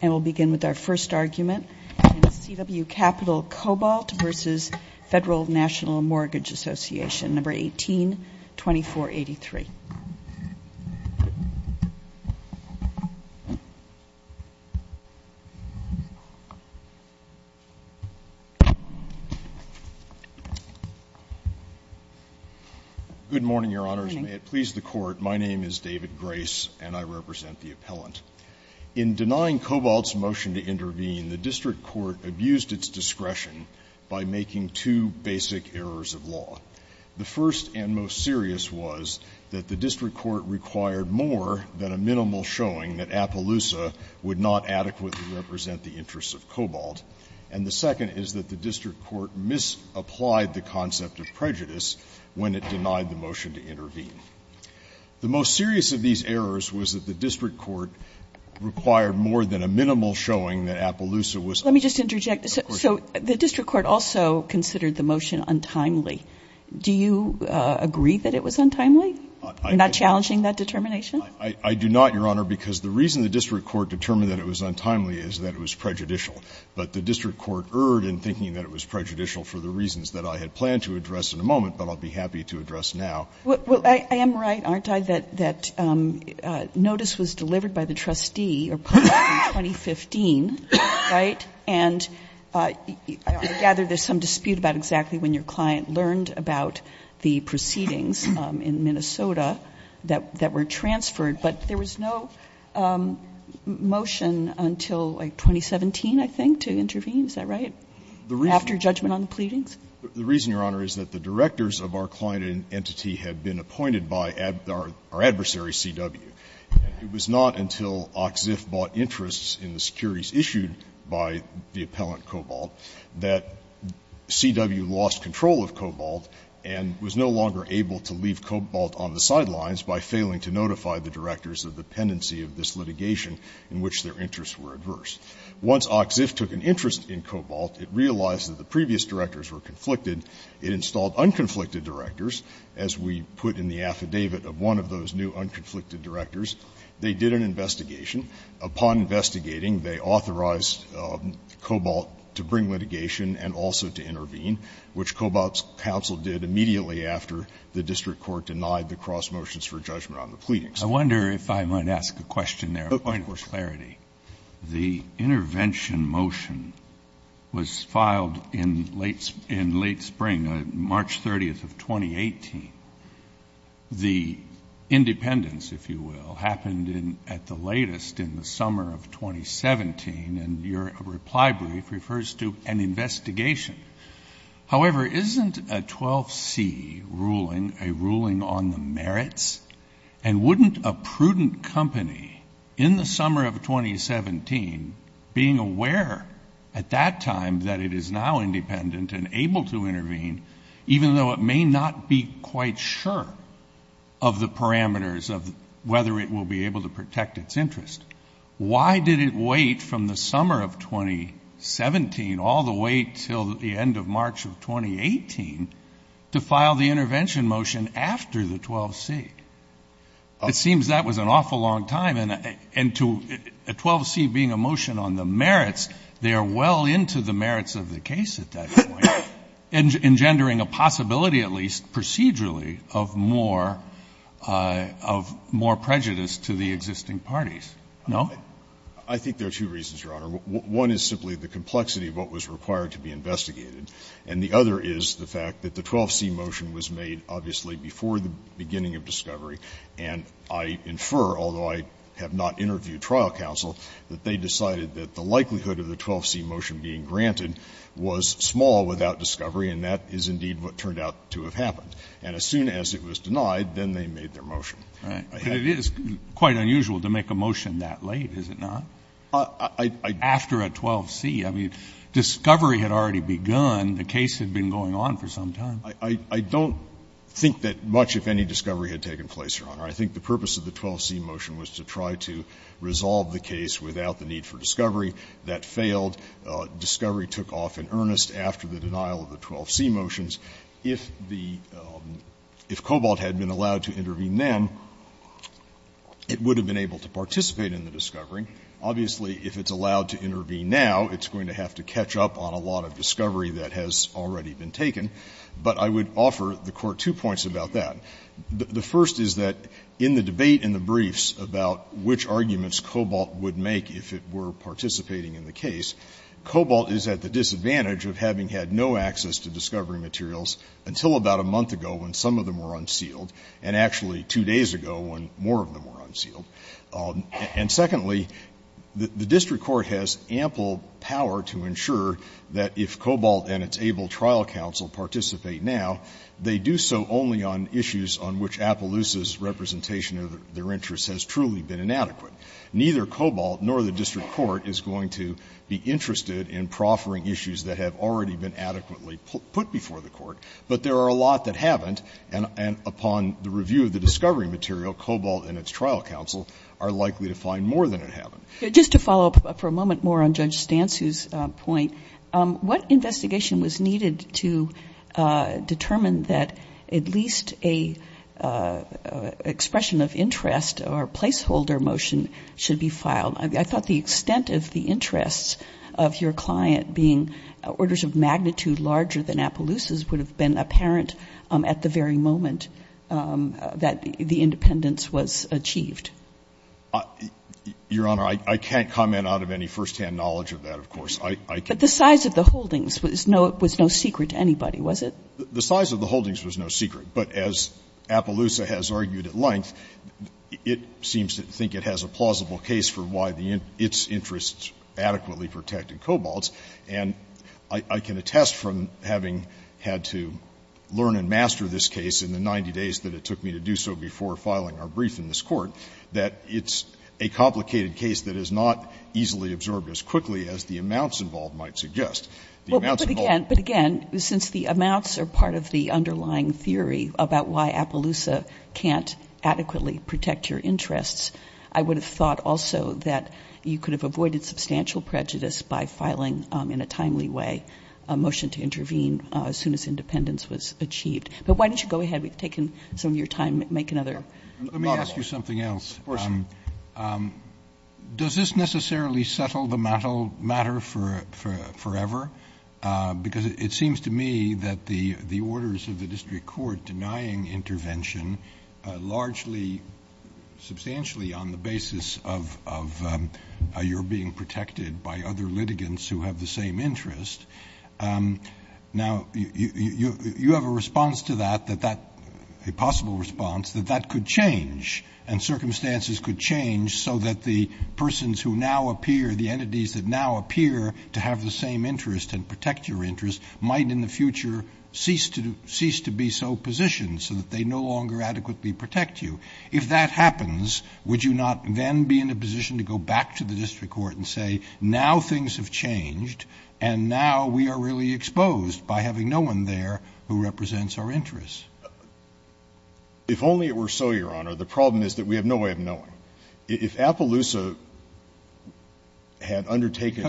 and we'll begin with our first argument in CW Capital Cobalt v. Federal National Mortgage Association, No. 18-2483. Good morning, Your Honors. May it please the Court, my name is David Grace and I represent the appellant. In denying Cobalt's motion to intervene, the district court abused its discretion by making two basic errors of law. The first and most serious was that the district court required more than a minimal showing that Appaloosa would not adequately represent the interests of Cobalt, and the second is that the district court misapplied the concept of prejudice when it denied the motion to intervene. The most serious of these errors was that the district court required more than a minimal showing that Appaloosa was untimely. Let me just interject. So the district court also considered the motion untimely. Do you agree that it was untimely? You're not challenging that determination? I do not, Your Honor, because the reason the district court determined that it was untimely is that it was prejudicial. But the district court erred in thinking that it was prejudicial for the reasons that I had planned to address in a moment but I'll be happy to address now. Well, I am right, aren't I, that notice was delivered by the trustee in 2015, right? And I gather there's some dispute about exactly when your client learned about the proceedings in Minnesota that were transferred. But there was no motion until, like, 2017, I think, to intervene. Is that right? After judgment on the pleadings? The reason, Your Honor, is that the directors of our client entity had been appointed by our adversary CW. It was not until OCCIF bought interests in the securities issued by the appellant Cobalt that CW lost control of Cobalt and was no longer able to leave Cobalt on the sidelines by failing to notify the directors of the pendency of this litigation in which their interests were adverse. Once OCCIF took an interest in Cobalt, it realized that the previous directors were conflicted. It installed unconflicted directors, as we put in the affidavit of one of those new unconflicted directors. They did an investigation. Upon investigating, they authorized Cobalt to bring litigation and also to intervene, which Cobalt's counsel did immediately after the district court denied the cross-motions for judgment on the pleadings. I wonder if I might ask a question there, a point of clarity. The intervention motion was filed in late spring, March 30th of 2018. The independence, if you will, happened at the latest in the summer of 2017, and your reply brief refers to an investigation. However, isn't a 12C ruling a ruling on the merits? And wouldn't a prudent company, in the summer of 2017, being aware at that time that it is now independent and able to intervene, even though it may not be quite sure of the parameters of whether it will be able to protect its interest, why did it wait from the summer of 2017 all the way until the end of March of 2018 to file the intervention motion after the 12C? It seems that was an awful long time, and to a 12C being a motion on the merits, they are well into the merits of the case at that point, engendering a possibility at least procedurally of more prejudice to the existing parties. No? I think there are two reasons, Your Honor. One is simply the complexity of what was required to be investigated. And the other is the fact that the 12C motion was made obviously before the beginning of discovery. And I infer, although I have not interviewed trial counsel, that they decided that the likelihood of the 12C motion being granted was small without discovery, and that is indeed what turned out to have happened. And as soon as it was denied, then they made their motion. Right. But it is quite unusual to make a motion that late, is it not? After a 12C. I mean, discovery had already begun. The case had been going on for some time. I don't think that much, if any, discovery had taken place, Your Honor. I think the purpose of the 12C motion was to try to resolve the case without the need for discovery. That failed. Discovery took off in earnest after the denial of the 12C motions. If the cobalt had been allowed to intervene then, it would have been able to participate in the discovery. Obviously, if it's allowed to intervene now, it's going to have to catch up on a lot of discovery that has already been taken. But I would offer the Court two points about that. The first is that in the debate in the briefs about which arguments cobalt would make if it were participating in the case, cobalt is at the disadvantage of having had no access to discovery materials until about a month ago when some of them were unsealed, and actually two days ago when more of them were unsealed. And secondly, the district court has ample power to ensure that if cobalt and its able trial counsel participate now, they do so only on issues on which Appaloosa's representation of their interests has truly been inadequate. Neither cobalt nor the district court is going to be interested in proffering issues that have already been adequately put before the Court. But there are a lot that haven't, and upon the review of the discovery material, cobalt and its trial counsel are likely to find more than it haven't. Just to follow up for a moment more on Judge Stansu's point, what investigation was needed to determine that at least an expression of interest or placeholder motion should be filed? I thought the extent of the interests of your client being orders of magnitude larger than Appaloosa's would have been apparent at the very moment that the independence was achieved. Your Honor, I can't comment out of any firsthand knowledge of that, of course. But the size of the holdings was no secret to anybody, was it? The size of the holdings was no secret, but as Appaloosa has argued at length, it seems to think it has a plausible case for why its interests adequately protect in cobalts, and I can attest from having had to learn and master this case in the 90 days that it took me to do so before filing our brief in this Court that it's a complicated case that is not easily absorbed as quickly as the amounts involved The amounts involved might not be easily absorbed. Kagan, but again, since the amounts are part of the underlying theory about why Appaloosa can't adequately protect your interests, I would have thought also that you could have avoided substantial prejudice by filing in a timely way a motion to intervene as soon as independence was achieved. But why don't you go ahead? We've taken some of your time. Make another model. Let me ask you something else. Of course. Does this necessarily settle the matter forever? Because it seems to me that the orders of the district court denying intervention largely substantially on the basis of your being protected by other litigants who have the same interest, now you have a response to that, a possible response that that could change and circumstances could change so that the persons who now have interest and protect your interest might in the future cease to be so positioned so that they no longer adequately protect you. If that happens, would you not then be in a position to go back to the district court and say now things have changed and now we are really exposed by having no one there who represents our interests? If only it were so, Your Honor. The problem is that we have no way of knowing. If Appaloosa had undertaken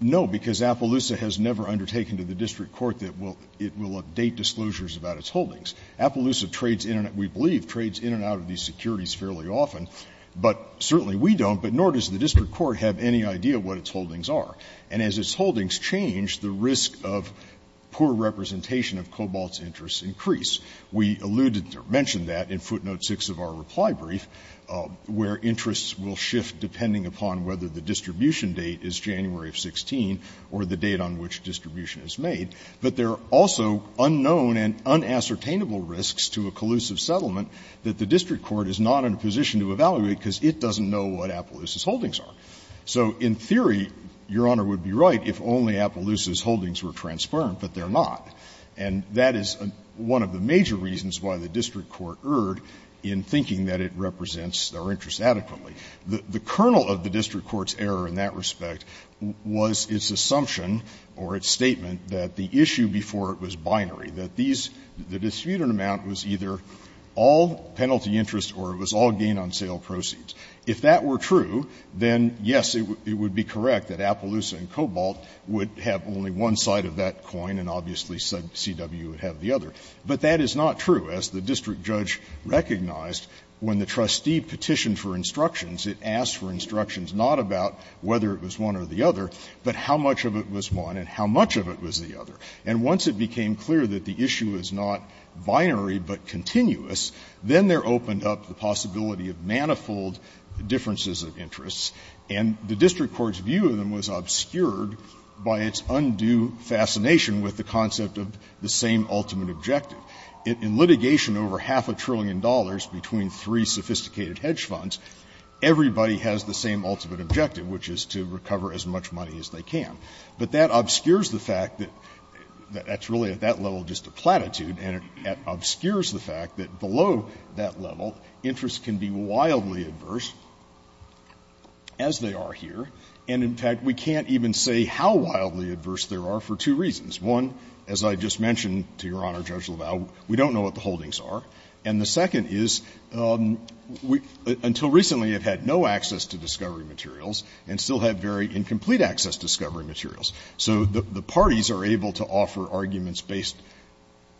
No, because Appaloosa has never undertaken to the district court that it will update disclosures about its holdings. Appaloosa trades in and out, we believe, trades in and out of these securities fairly often, but certainly we don't, but nor does the district court have any idea what its holdings are. And as its holdings change, the risk of poor representation of Cobalt's interests increase. We alluded to or mentioned that in footnote 6 of our reply brief, where interests will shift depending upon whether the distribution date is January of 16 or the date on which distribution is made, but there are also unknown and unassertainable risks to a collusive settlement that the district court is not in a position to evaluate because it doesn't know what Appaloosa's holdings are. So in theory, Your Honor would be right if only Appaloosa's holdings were transparent, but they are not. And that is one of the major reasons why the district court erred in thinking that it represents our interests adequately. The kernel of the district court's error in that respect was its assumption or its statement that the issue before it was binary, that these the distributed amount was either all penalty interest or it was all gain on sale proceeds. If that were true, then, yes, it would be correct that Appaloosa and Cobalt would have only one side of that coin, and obviously CW would have the other. But that is not true, as the district judge recognized when the trustee petitioned for instructions. It asked for instructions not about whether it was one or the other, but how much of it was one and how much of it was the other. And once it became clear that the issue is not binary but continuous, then there opened up the possibility of manifold differences of interests, and the district court's view of them was obscured by its undue fascination with the concept of the same ultimate objective. In litigation, over half a trillion dollars between three sophisticated hedge funds, everybody has the same ultimate objective, which is to recover as much money as they can. But that obscures the fact that that's really at that level just a platitude, and it obscures the fact that below that level, interests can be wildly adverse as they are here, and in fact, we can't even say how wildly adverse they are for two reasons. One, as I just mentioned to Your Honor, Judge LaValle, we don't know what the holdings are, and the second is, until recently, you've had no access to discovery materials and still have very incomplete access to discovery materials. So the parties are able to offer arguments based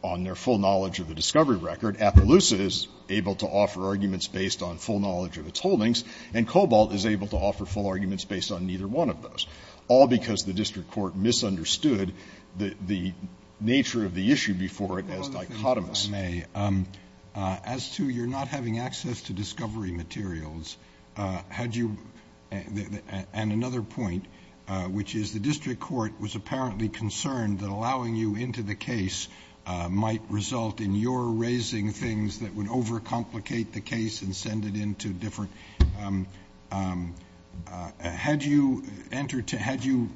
on their full knowledge of the discovery record. Appaloosa is able to offer arguments based on full knowledge of its holdings, and Cobalt is able to offer full arguments based on neither one of those, all because the district court misunderstood the nature of the issue before it as dichotomous. Roberts. As to your not having access to discovery materials, had you, and another point, which is the district court was apparently concerned that allowing you into the case might result in your raising things that would overcomplicate the case and send it into different, had you entered, had you,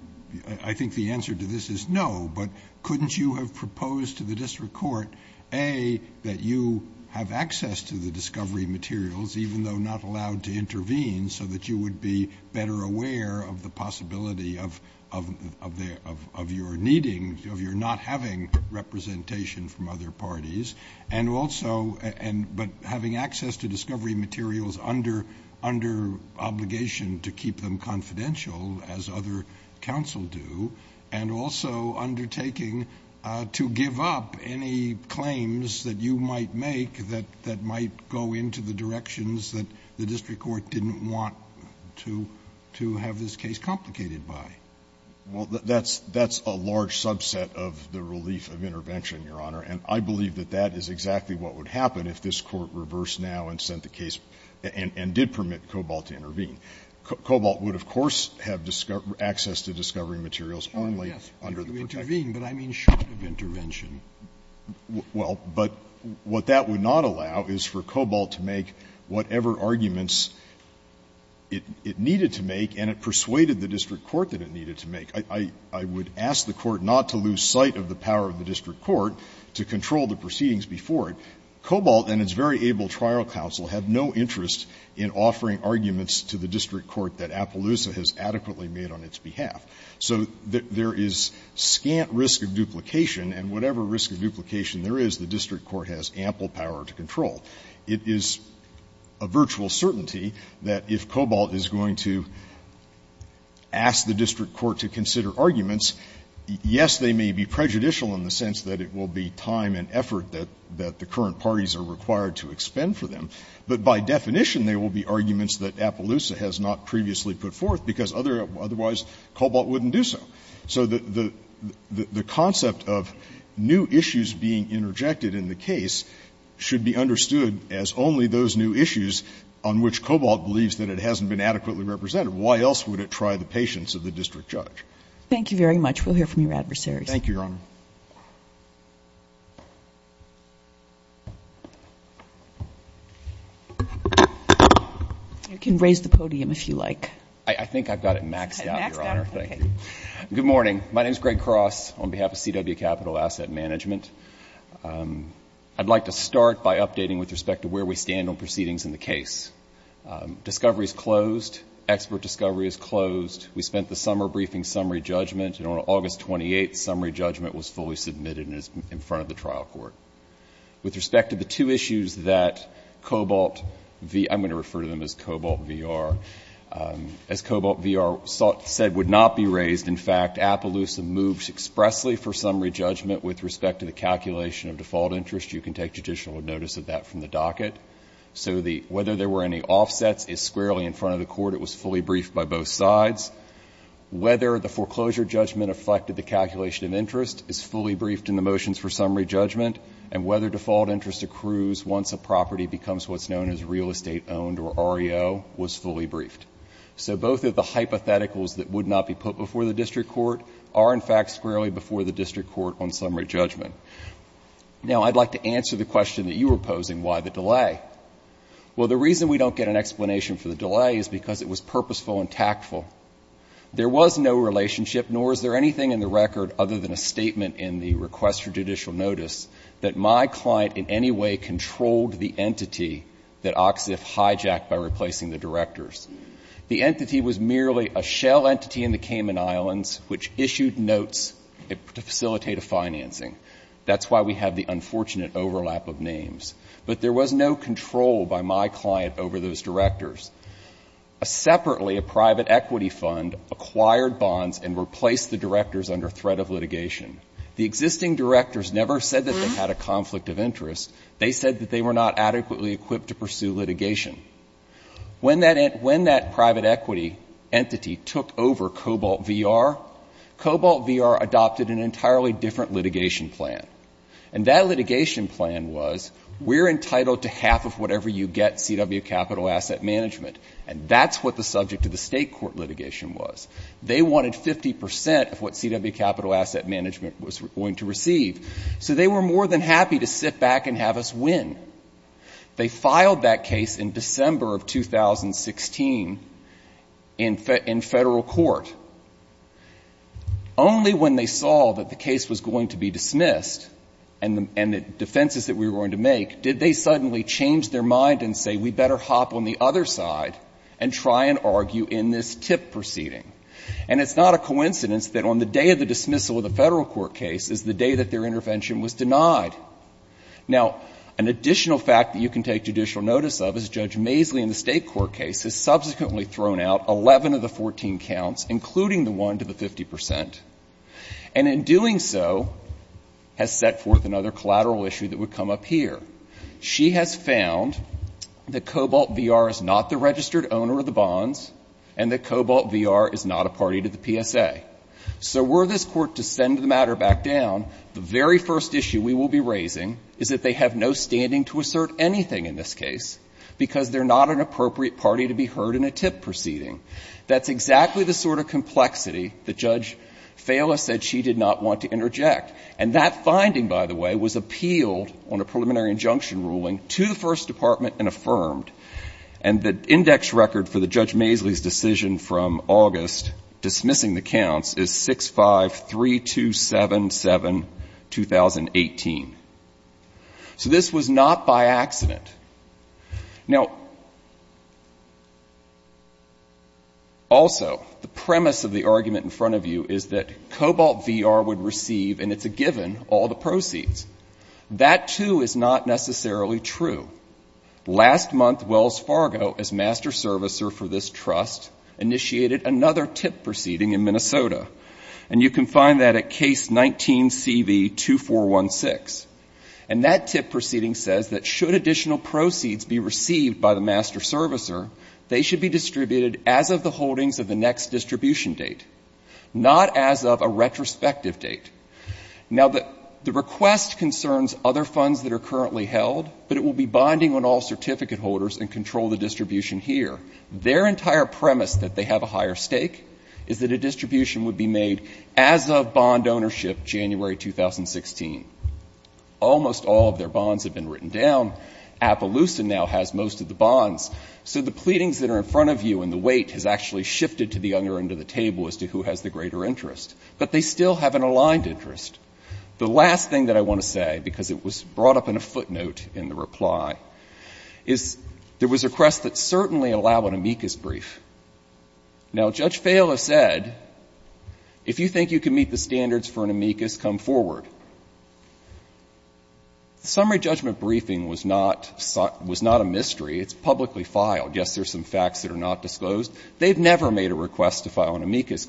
I think the answer to this is no, but couldn't you have proposed to the district court, A, that you have access to the discovery materials even though not allowed to intervene so that you would be better aware of the possibility of your needing, of your not having representation from other parties, and also, but having access to discovery materials under obligation to keep them confidential as other counsel do, and also undertaking to give up any claims that you might make that might go into the directions that the district court didn't want to have this case complicated by? Well, that's a large subset of the relief of intervention, Your Honor, and I believe that that is exactly what would happen if this Court reversed now and sent the case and did permit Cobalt to intervene. Cobalt would, of course, have access to discovery materials only under the protection of the district court. Oh, yes, if you intervene, but I mean short of intervention. Well, but what that would not allow is for Cobalt to make whatever arguments it needed to make, and it persuaded the district court that it needed to make. I would ask the court not to lose sight of the power of the district court to control the proceedings before it. Cobalt and its very able trial counsel have no interest in offering arguments to the district court that Appaloosa has adequately made on its behalf. So there is scant risk of duplication, and whatever risk of duplication there is, the district court has ample power to control. It is a virtual certainty that if Cobalt is going to ask the district court to consider arguments, yes, they may be prejudicial in the sense that it will be time and effort that the current parties are required to expend for them, but by definition they will be arguments that Appaloosa has not previously put forth, because otherwise Cobalt wouldn't do so. So the concept of new issues being interjected in the case should be understood as only those new issues on which Cobalt believes that it hasn't been adequately represented. Why else would it try the patience of the district judge? Thank you very much. We'll hear from your adversaries. Thank you, Your Honor. You can raise the podium if you like. I think I've got it maxed out, Your Honor. Good morning. My name is Greg Cross on behalf of CW Capital Asset Management. I'd like to start by updating with respect to where we stand on proceedings in the case. Discovery is closed. Expert discovery is closed. We spent the summer briefing summary judgment, and on August 28th, summary judgment was fully submitted in front of the trial court. With respect to the two issues that Cobalt, I'm going to refer to them as Cobalt VR. As Cobalt VR said would not be raised, in fact, Appaloosa moves expressly for summary judgment with respect to the calculation of default interest. You can take judicial notice of that from the docket. So whether there were any offsets is squarely in front of the court. It was fully briefed by both sides. Whether the foreclosure judgment affected the calculation of interest is fully briefed in the motions for summary judgment. And whether default interest accrues once a property becomes what's known as real estate owned or REO was fully briefed. So both of the hypotheticals that would not be put before the district court are in fact squarely before the district court on summary judgment. Now, I'd like to answer the question that you were posing, why the delay? Well, the reason we don't get an explanation for the delay is because it was purposeful and tactful. There was no relationship, nor is there anything in the record other than a statement in the request for judicial notice that my client in any way controlled the entity that OXIF hijacked by replacing the directors. The entity was merely a shell entity in the Cayman Islands which issued notes to facilitate a financing. That's why we have the unfortunate overlap of names. But there was no control by my client over those directors. Separately, a private equity fund acquired bonds and replaced the directors under threat of litigation. The existing directors never said that they had a conflict of interest. They said that they were not adequately equipped to pursue litigation. When that private equity entity took over Cobalt v. R., Cobalt v. R. adopted an entirely different litigation plan. And that litigation plan was, we're entitled to half of whatever you get, CW Capital Asset Management. And that's what the subject of the state court litigation was. They wanted 50 percent of what CW Capital Asset Management was going to receive. So they were more than happy to sit back and have us win. They filed that case in December of 2016 in federal court. Only when they saw that the case was going to be dismissed and the defenses that we were going to make did they suddenly change their mind and say, we better hop on the other side and try and argue in this TIP proceeding. And it's not a coincidence that on the day of the dismissal of the federal court case is the day that their intervention was denied. Now, an additional fact that you can take judicial notice of is Judge Maisly in the 2014 counts, including the one to the 50 percent, and in doing so has set forth another collateral issue that would come up here. She has found that Cobalt v. R. is not the registered owner of the bonds and that Cobalt v. R. is not a party to the PSA. So were this court to send the matter back down, the very first issue we will be raising is that they have no standing to assert anything in this case because they're not an appropriate party to be heard in a TIP proceeding. That's exactly the sort of complexity that Judge Fala said she did not want to interject. And that finding, by the way, was appealed on a preliminary injunction ruling to the First Department and affirmed. And the index record for the Judge Maisly's decision from August dismissing the counts is 653277, 2018. So this was not by accident. Now, also, the premise of the argument in front of you is that Cobalt v. R. would receive, and it's a given, all the proceeds. That too is not necessarily true. Last month, Wells Fargo, as master servicer for this trust, initiated another TIP proceeding in Minnesota. And you can find that at Case 19-CV-2416. And that TIP proceeding says that should additional proceeds be received by the master servicer, they should be distributed as of the holdings of the next distribution date, not as of a retrospective date. Now the request concerns other funds that are currently held, but it will be bonding on all certificate holders and control the distribution here. Their entire premise that they have a higher stake is that a distribution would be made as of bond ownership January 2016. Almost all of their bonds have been written down. Appaloosa now has most of the bonds. So the pleadings that are in front of you and the wait has actually shifted to the younger end of the table as to who has the greater interest. But they still have an aligned interest. The last thing that I want to say, because it was brought up in a footnote in the reply, is there was a request that certainly allowed an amicus brief. Now, Judge Fahill has said, if you think you can meet the standards for an amicus, come forward. The summary judgment briefing was not a mystery. It's publicly filed. Yes, there's some facts that are not disclosed. They've never made a request to file an amicus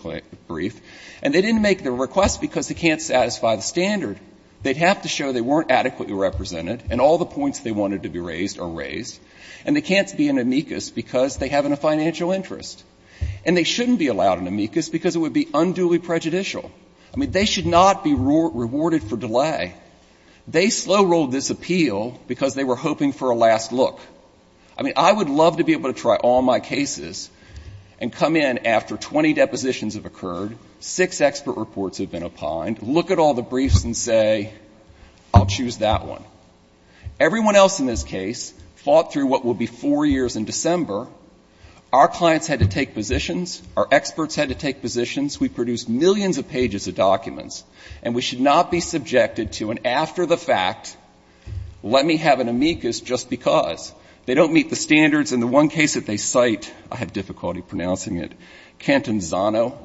brief. And they didn't make the request because they can't satisfy the standard. They'd have to show they weren't adequately represented and all the points they wanted to be raised are raised. And they can't be an amicus because they have a financial interest. And they shouldn't be allowed an amicus because it would be unduly prejudicial. I mean, they should not be rewarded for delay. They slow rolled this appeal because they were hoping for a last look. I mean, I would love to be able to try all my cases and come in after 20 depositions have occurred, six expert reports have been opined, look at all the briefs and say, I'll choose that one. Everyone else in this case fought through what will be four years in December. Our clients had to take positions. Our experts had to take positions. We produced millions of pages of documents. And we should not be subjected to an after-the-fact, let me have an amicus just because. They don't meet the standards. In the one case that they cite, I have difficulty pronouncing it, Cantanzano,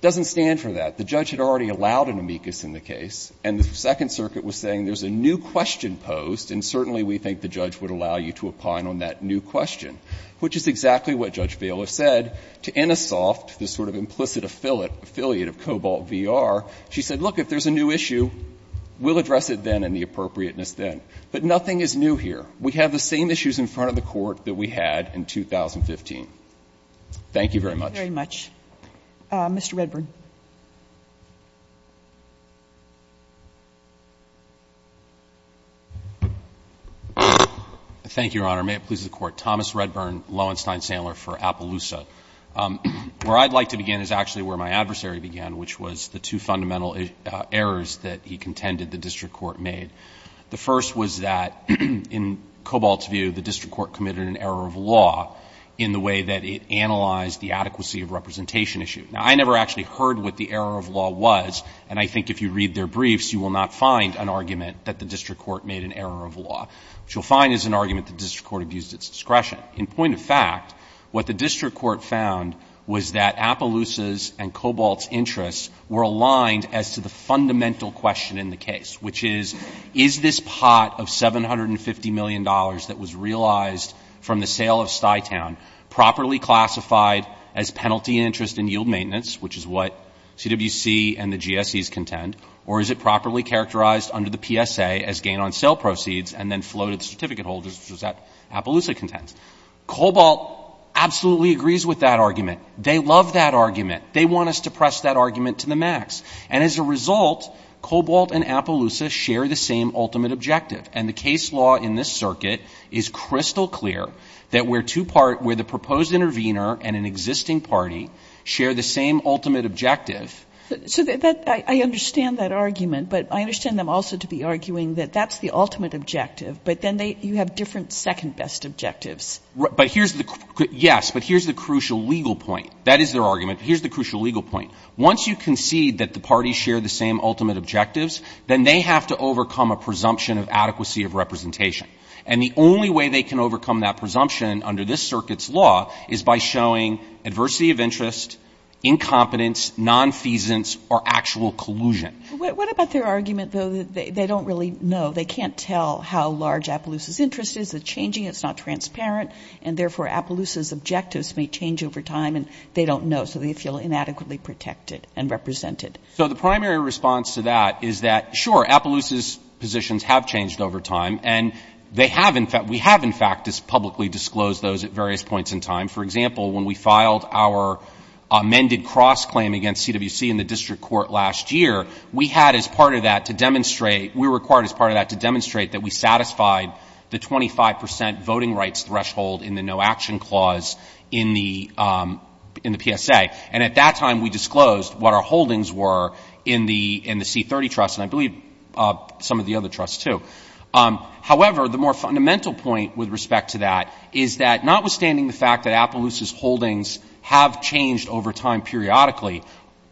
doesn't stand for that. The judge had already allowed an amicus in the case. And the Second Circuit was saying there's a new question posed, and certainly we think the judge would allow you to opine on that new question, which is exactly what Judge Vaila said to Innisoft, the sort of implicit affiliate of Cobalt v. R. She said, look, if there's a new issue, we'll address it then and the appropriateness then. But nothing is new here. We have the same issues in front of the Court that we had in 2015. Thank you very much. Thank you very much. Mr. Redburn. Thank you, Your Honor. May it please the Court. Thomas Redburn, Lowenstein-Sandler for Appaloosa. Where I'd like to begin is actually where my adversary began, which was the two fundamental errors that he contended the district court made. The first was that in Cobalt's view, the district court committed an error of law in the way that it analyzed the adequacy of representation issue. Now, I never actually heard what the error of law was, and I think if you read their briefs, you will not find an argument that the district court made an error of law. What you'll find is an argument that the district court abused its discretion. In point of fact, what the district court found was that Appaloosa's and Cobalt's interests were aligned as to the fundamental question in the case, which is, is this pot of $750 million that was realized from the sale of Stytown properly classified as penalty interest and yield maintenance, which is what CWC and the GSEs contend, or is it properly characterized under the PSA as gain on sale proceeds and then flow to the certificate holders, which is what Appaloosa contends? Cobalt absolutely agrees with that argument. They love that argument. They want us to press that argument to the max, and as a result, Cobalt and Appaloosa share the same ultimate objective. And the case law in this circuit is crystal clear that where two parties, where the proposed intervener and an existing party share the same ultimate objective. So that — I understand that argument, but I understand them also to be arguing that that's the ultimate objective, but then they — you have different second-best objectives. But here's the — yes, but here's the crucial legal point. That is their argument. Here's the crucial legal point. Once you concede that the parties share the same ultimate objectives, then they have to overcome a presumption of adequacy of representation. And the only way they can overcome that presumption under this circuit's law is by showing adversity of interest, incompetence, nonfeasance, or actual collusion. What about their argument, though, that they don't really know? They can't tell how large Appaloosa's interest is. It's changing. It's not transparent. And therefore, Appaloosa's objectives may change over time, and they don't know. So they feel inadequately protected and represented. So the primary response to that is that, sure, Appaloosa's positions have changed over time, and they have — we have, in fact, publicly disclosed those at various points in time. For example, when we filed our amended cross-claim against CWC in the district court last year, we had as part of that to demonstrate — we were required as part of that to demonstrate that we satisfied the 25 percent voting rights threshold in the no-action clause in the PSA. And at that time, we disclosed what our holdings were in the C30 trust, and I believe some of the other trusts, too. However, the more fundamental point with respect to that is that, notwithstanding the fact that Appaloosa's holdings have changed over time periodically,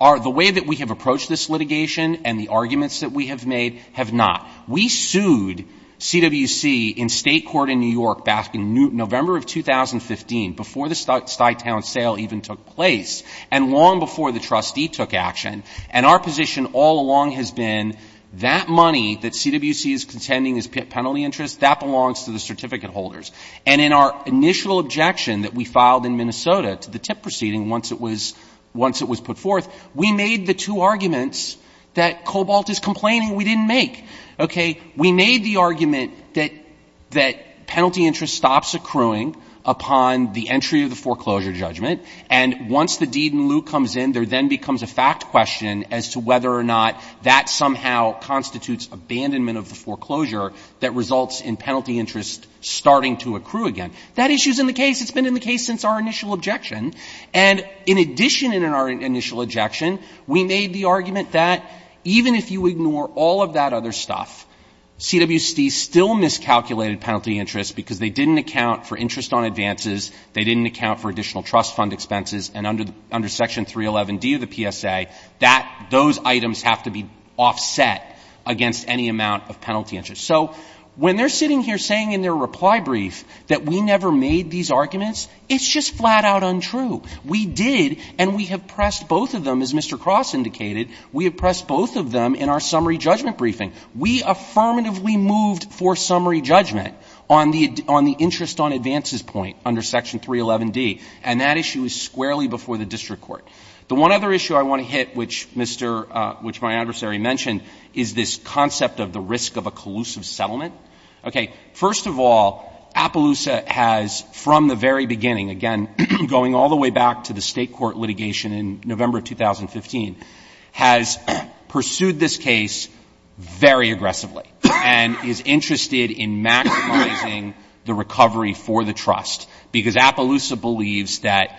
the way that we have approached this litigation and the arguments that we have made have not. We sued CWC in state court in New York back in November of 2015, before the Stuytown sale even took place, and long before the trustee took action. And our position all along has been that money that CWC is contending is penalty interest, that belongs to the certificate holders. And in our initial objection that we filed in Minnesota to the TIP proceeding once it was — once it was put forth, we made the two arguments that Cobalt is complaining we have. Okay? We made the argument that — that penalty interest stops accruing upon the entry of the foreclosure judgment, and once the deed in lieu comes in, there then becomes a fact question as to whether or not that somehow constitutes abandonment of the foreclosure that results in penalty interest starting to accrue again. That issue is in the case. It's been in the case since our initial objection. And in addition in our initial objection, we made the argument that even if you ignore all of that other stuff, CWC still miscalculated penalty interest because they didn't account for interest on advances, they didn't account for additional trust fund expenses, and under Section 311D of the PSA, that — those items have to be offset against any amount of penalty interest. So when they're sitting here saying in their reply brief that we never made these arguments, it's just flat-out untrue. We did, and we have pressed both of them, as Mr. Cross indicated, we have pressed both of them in our summary judgment briefing. We affirmatively moved for summary judgment on the — on the interest on advances point under Section 311D, and that issue is squarely before the district court. The one other issue I want to hit, which Mr. — which my adversary mentioned, is this concept of the risk of a collusive settlement. Okay. First of all, Appaloosa has, from the very beginning, again, going all the way back to the state court litigation in November of 2015, has pursued this case very aggressively and is interested in maximizing the recovery for the trust, because Appaloosa believes that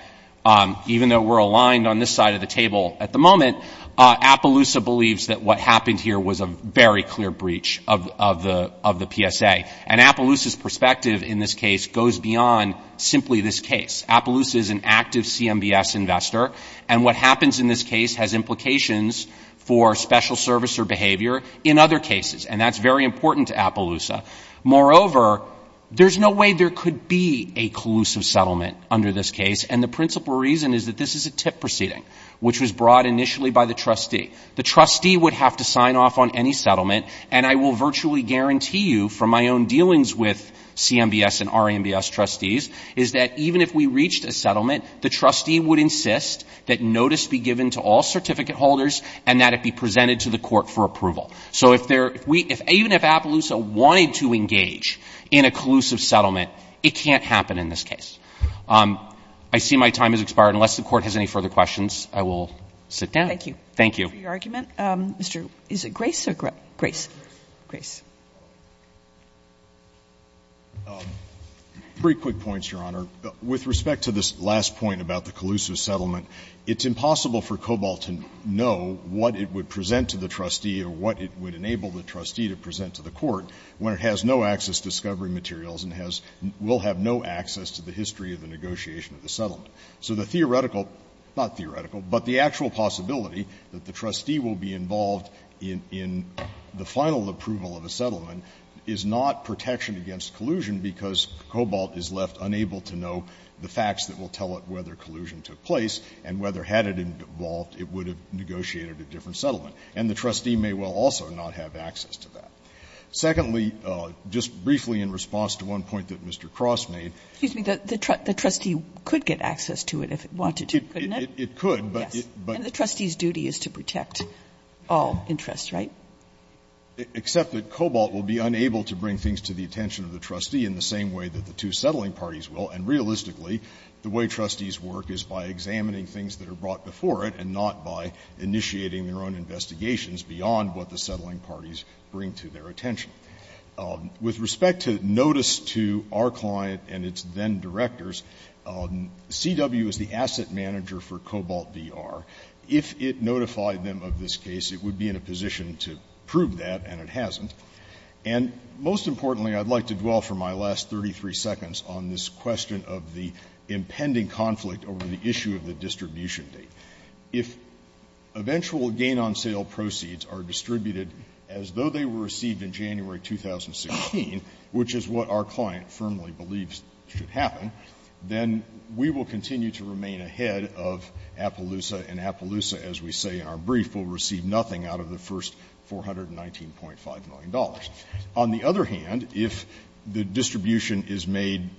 even though we're aligned on this side of the table at the moment, Appaloosa believes that what happened here was a very clear breach of the — of the PSA. And Appaloosa's perspective in this case goes beyond simply this case. Appaloosa is an active CMBS investor, and what happens in this case has implications for special servicer behavior in other cases, and that's very important to Appaloosa. Moreover, there's no way there could be a collusive settlement under this case, and the principal reason is that this is a TIP proceeding, which was brought initially by the trustee. The trustee would have to sign off on any settlement, and I will virtually guarantee you from my own dealings with CMBS and RIMBS trustees is that even if we reached a settlement, the trustee would insist that notice be given to all certificate holders and that it be presented to the court for approval. So if there — if we — even if Appaloosa wanted to engage in a collusive settlement, it can't happen in this case. I see my time has expired. Unless the court has any further questions, I will sit down. Thank you. Thank you. For your argument. Mr. — is it Grace or — Grace. Grace. Three quick points, Your Honor. With respect to this last point about the collusive settlement, it's impossible for Cobalt to know what it would present to the trustee or what it would enable the trustee to present to the court when it has no access to discovery materials and has — will have no access to the history of the negotiation of the settlement. So the theoretical — not theoretical, but the actual possibility that the trustee will be involved in — in the final approval of a settlement is not protection against collusion because Cobalt is left unable to know the facts that will tell it whether collusion took place and whether, had it evolved, it would have negotiated a different settlement. And the trustee may well also not have access to that. Secondly, just briefly in response to one point that Mr. Cross made — Excuse me. The trustee could get access to it if it wanted to, couldn't it? It could, but — Yes. And the trustee's duty is to protect all interests, right? Except that Cobalt will be unable to bring things to the attention of the trustee in the same way that the two settling parties will. And realistically, the way trustees work is by examining things that are brought before it and not by initiating their own investigations beyond what the settling parties bring to their attention. With respect to notice to our client and its then-directors, CW is the asset manager for Cobalt v. R. If it notified them of this case, it would be in a position to prove that, and it hasn't. And most importantly, I'd like to dwell for my last 33 seconds on this question of the impending conflict over the issue of the distribution date. If eventual gain-on-sale proceeds are distributed as though they were received in January 2016, which is what our client firmly believes should happen, then we will continue to remain ahead of Appaloosa, and Appaloosa, as we say in our brief, will receive nothing out of the first $419.5 million. On the other hand, if the distribution is made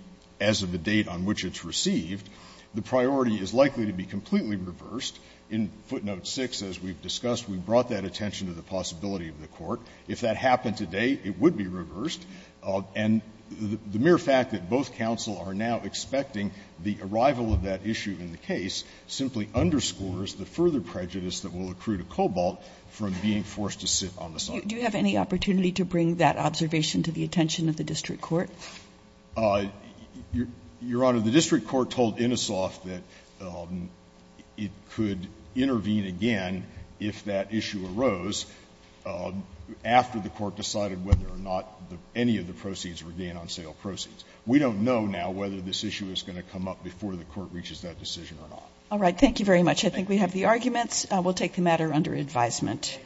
as of the date on which it's received, the priority is likely to be completely reversed. In footnote 6, as we've discussed, we brought that attention to the possibility of the court. If that happened today, it would be reversed. And the mere fact that both counsel are now expecting the arrival of that issue in the case simply underscores the further prejudice that will accrue to Cobalt from being forced to sit on the side. Kagan. Kagan. Do you have any opportunity to bring that observation to the attention of the district court? Your Honor, the district court told Innisoft that it could intervene again if that any of the proceeds were gain-on-sale proceeds. We don't know now whether this issue is going to come up before the court reaches that decision or not. All right. Thank you very much. I think we have the arguments. We'll take the matter under advisement.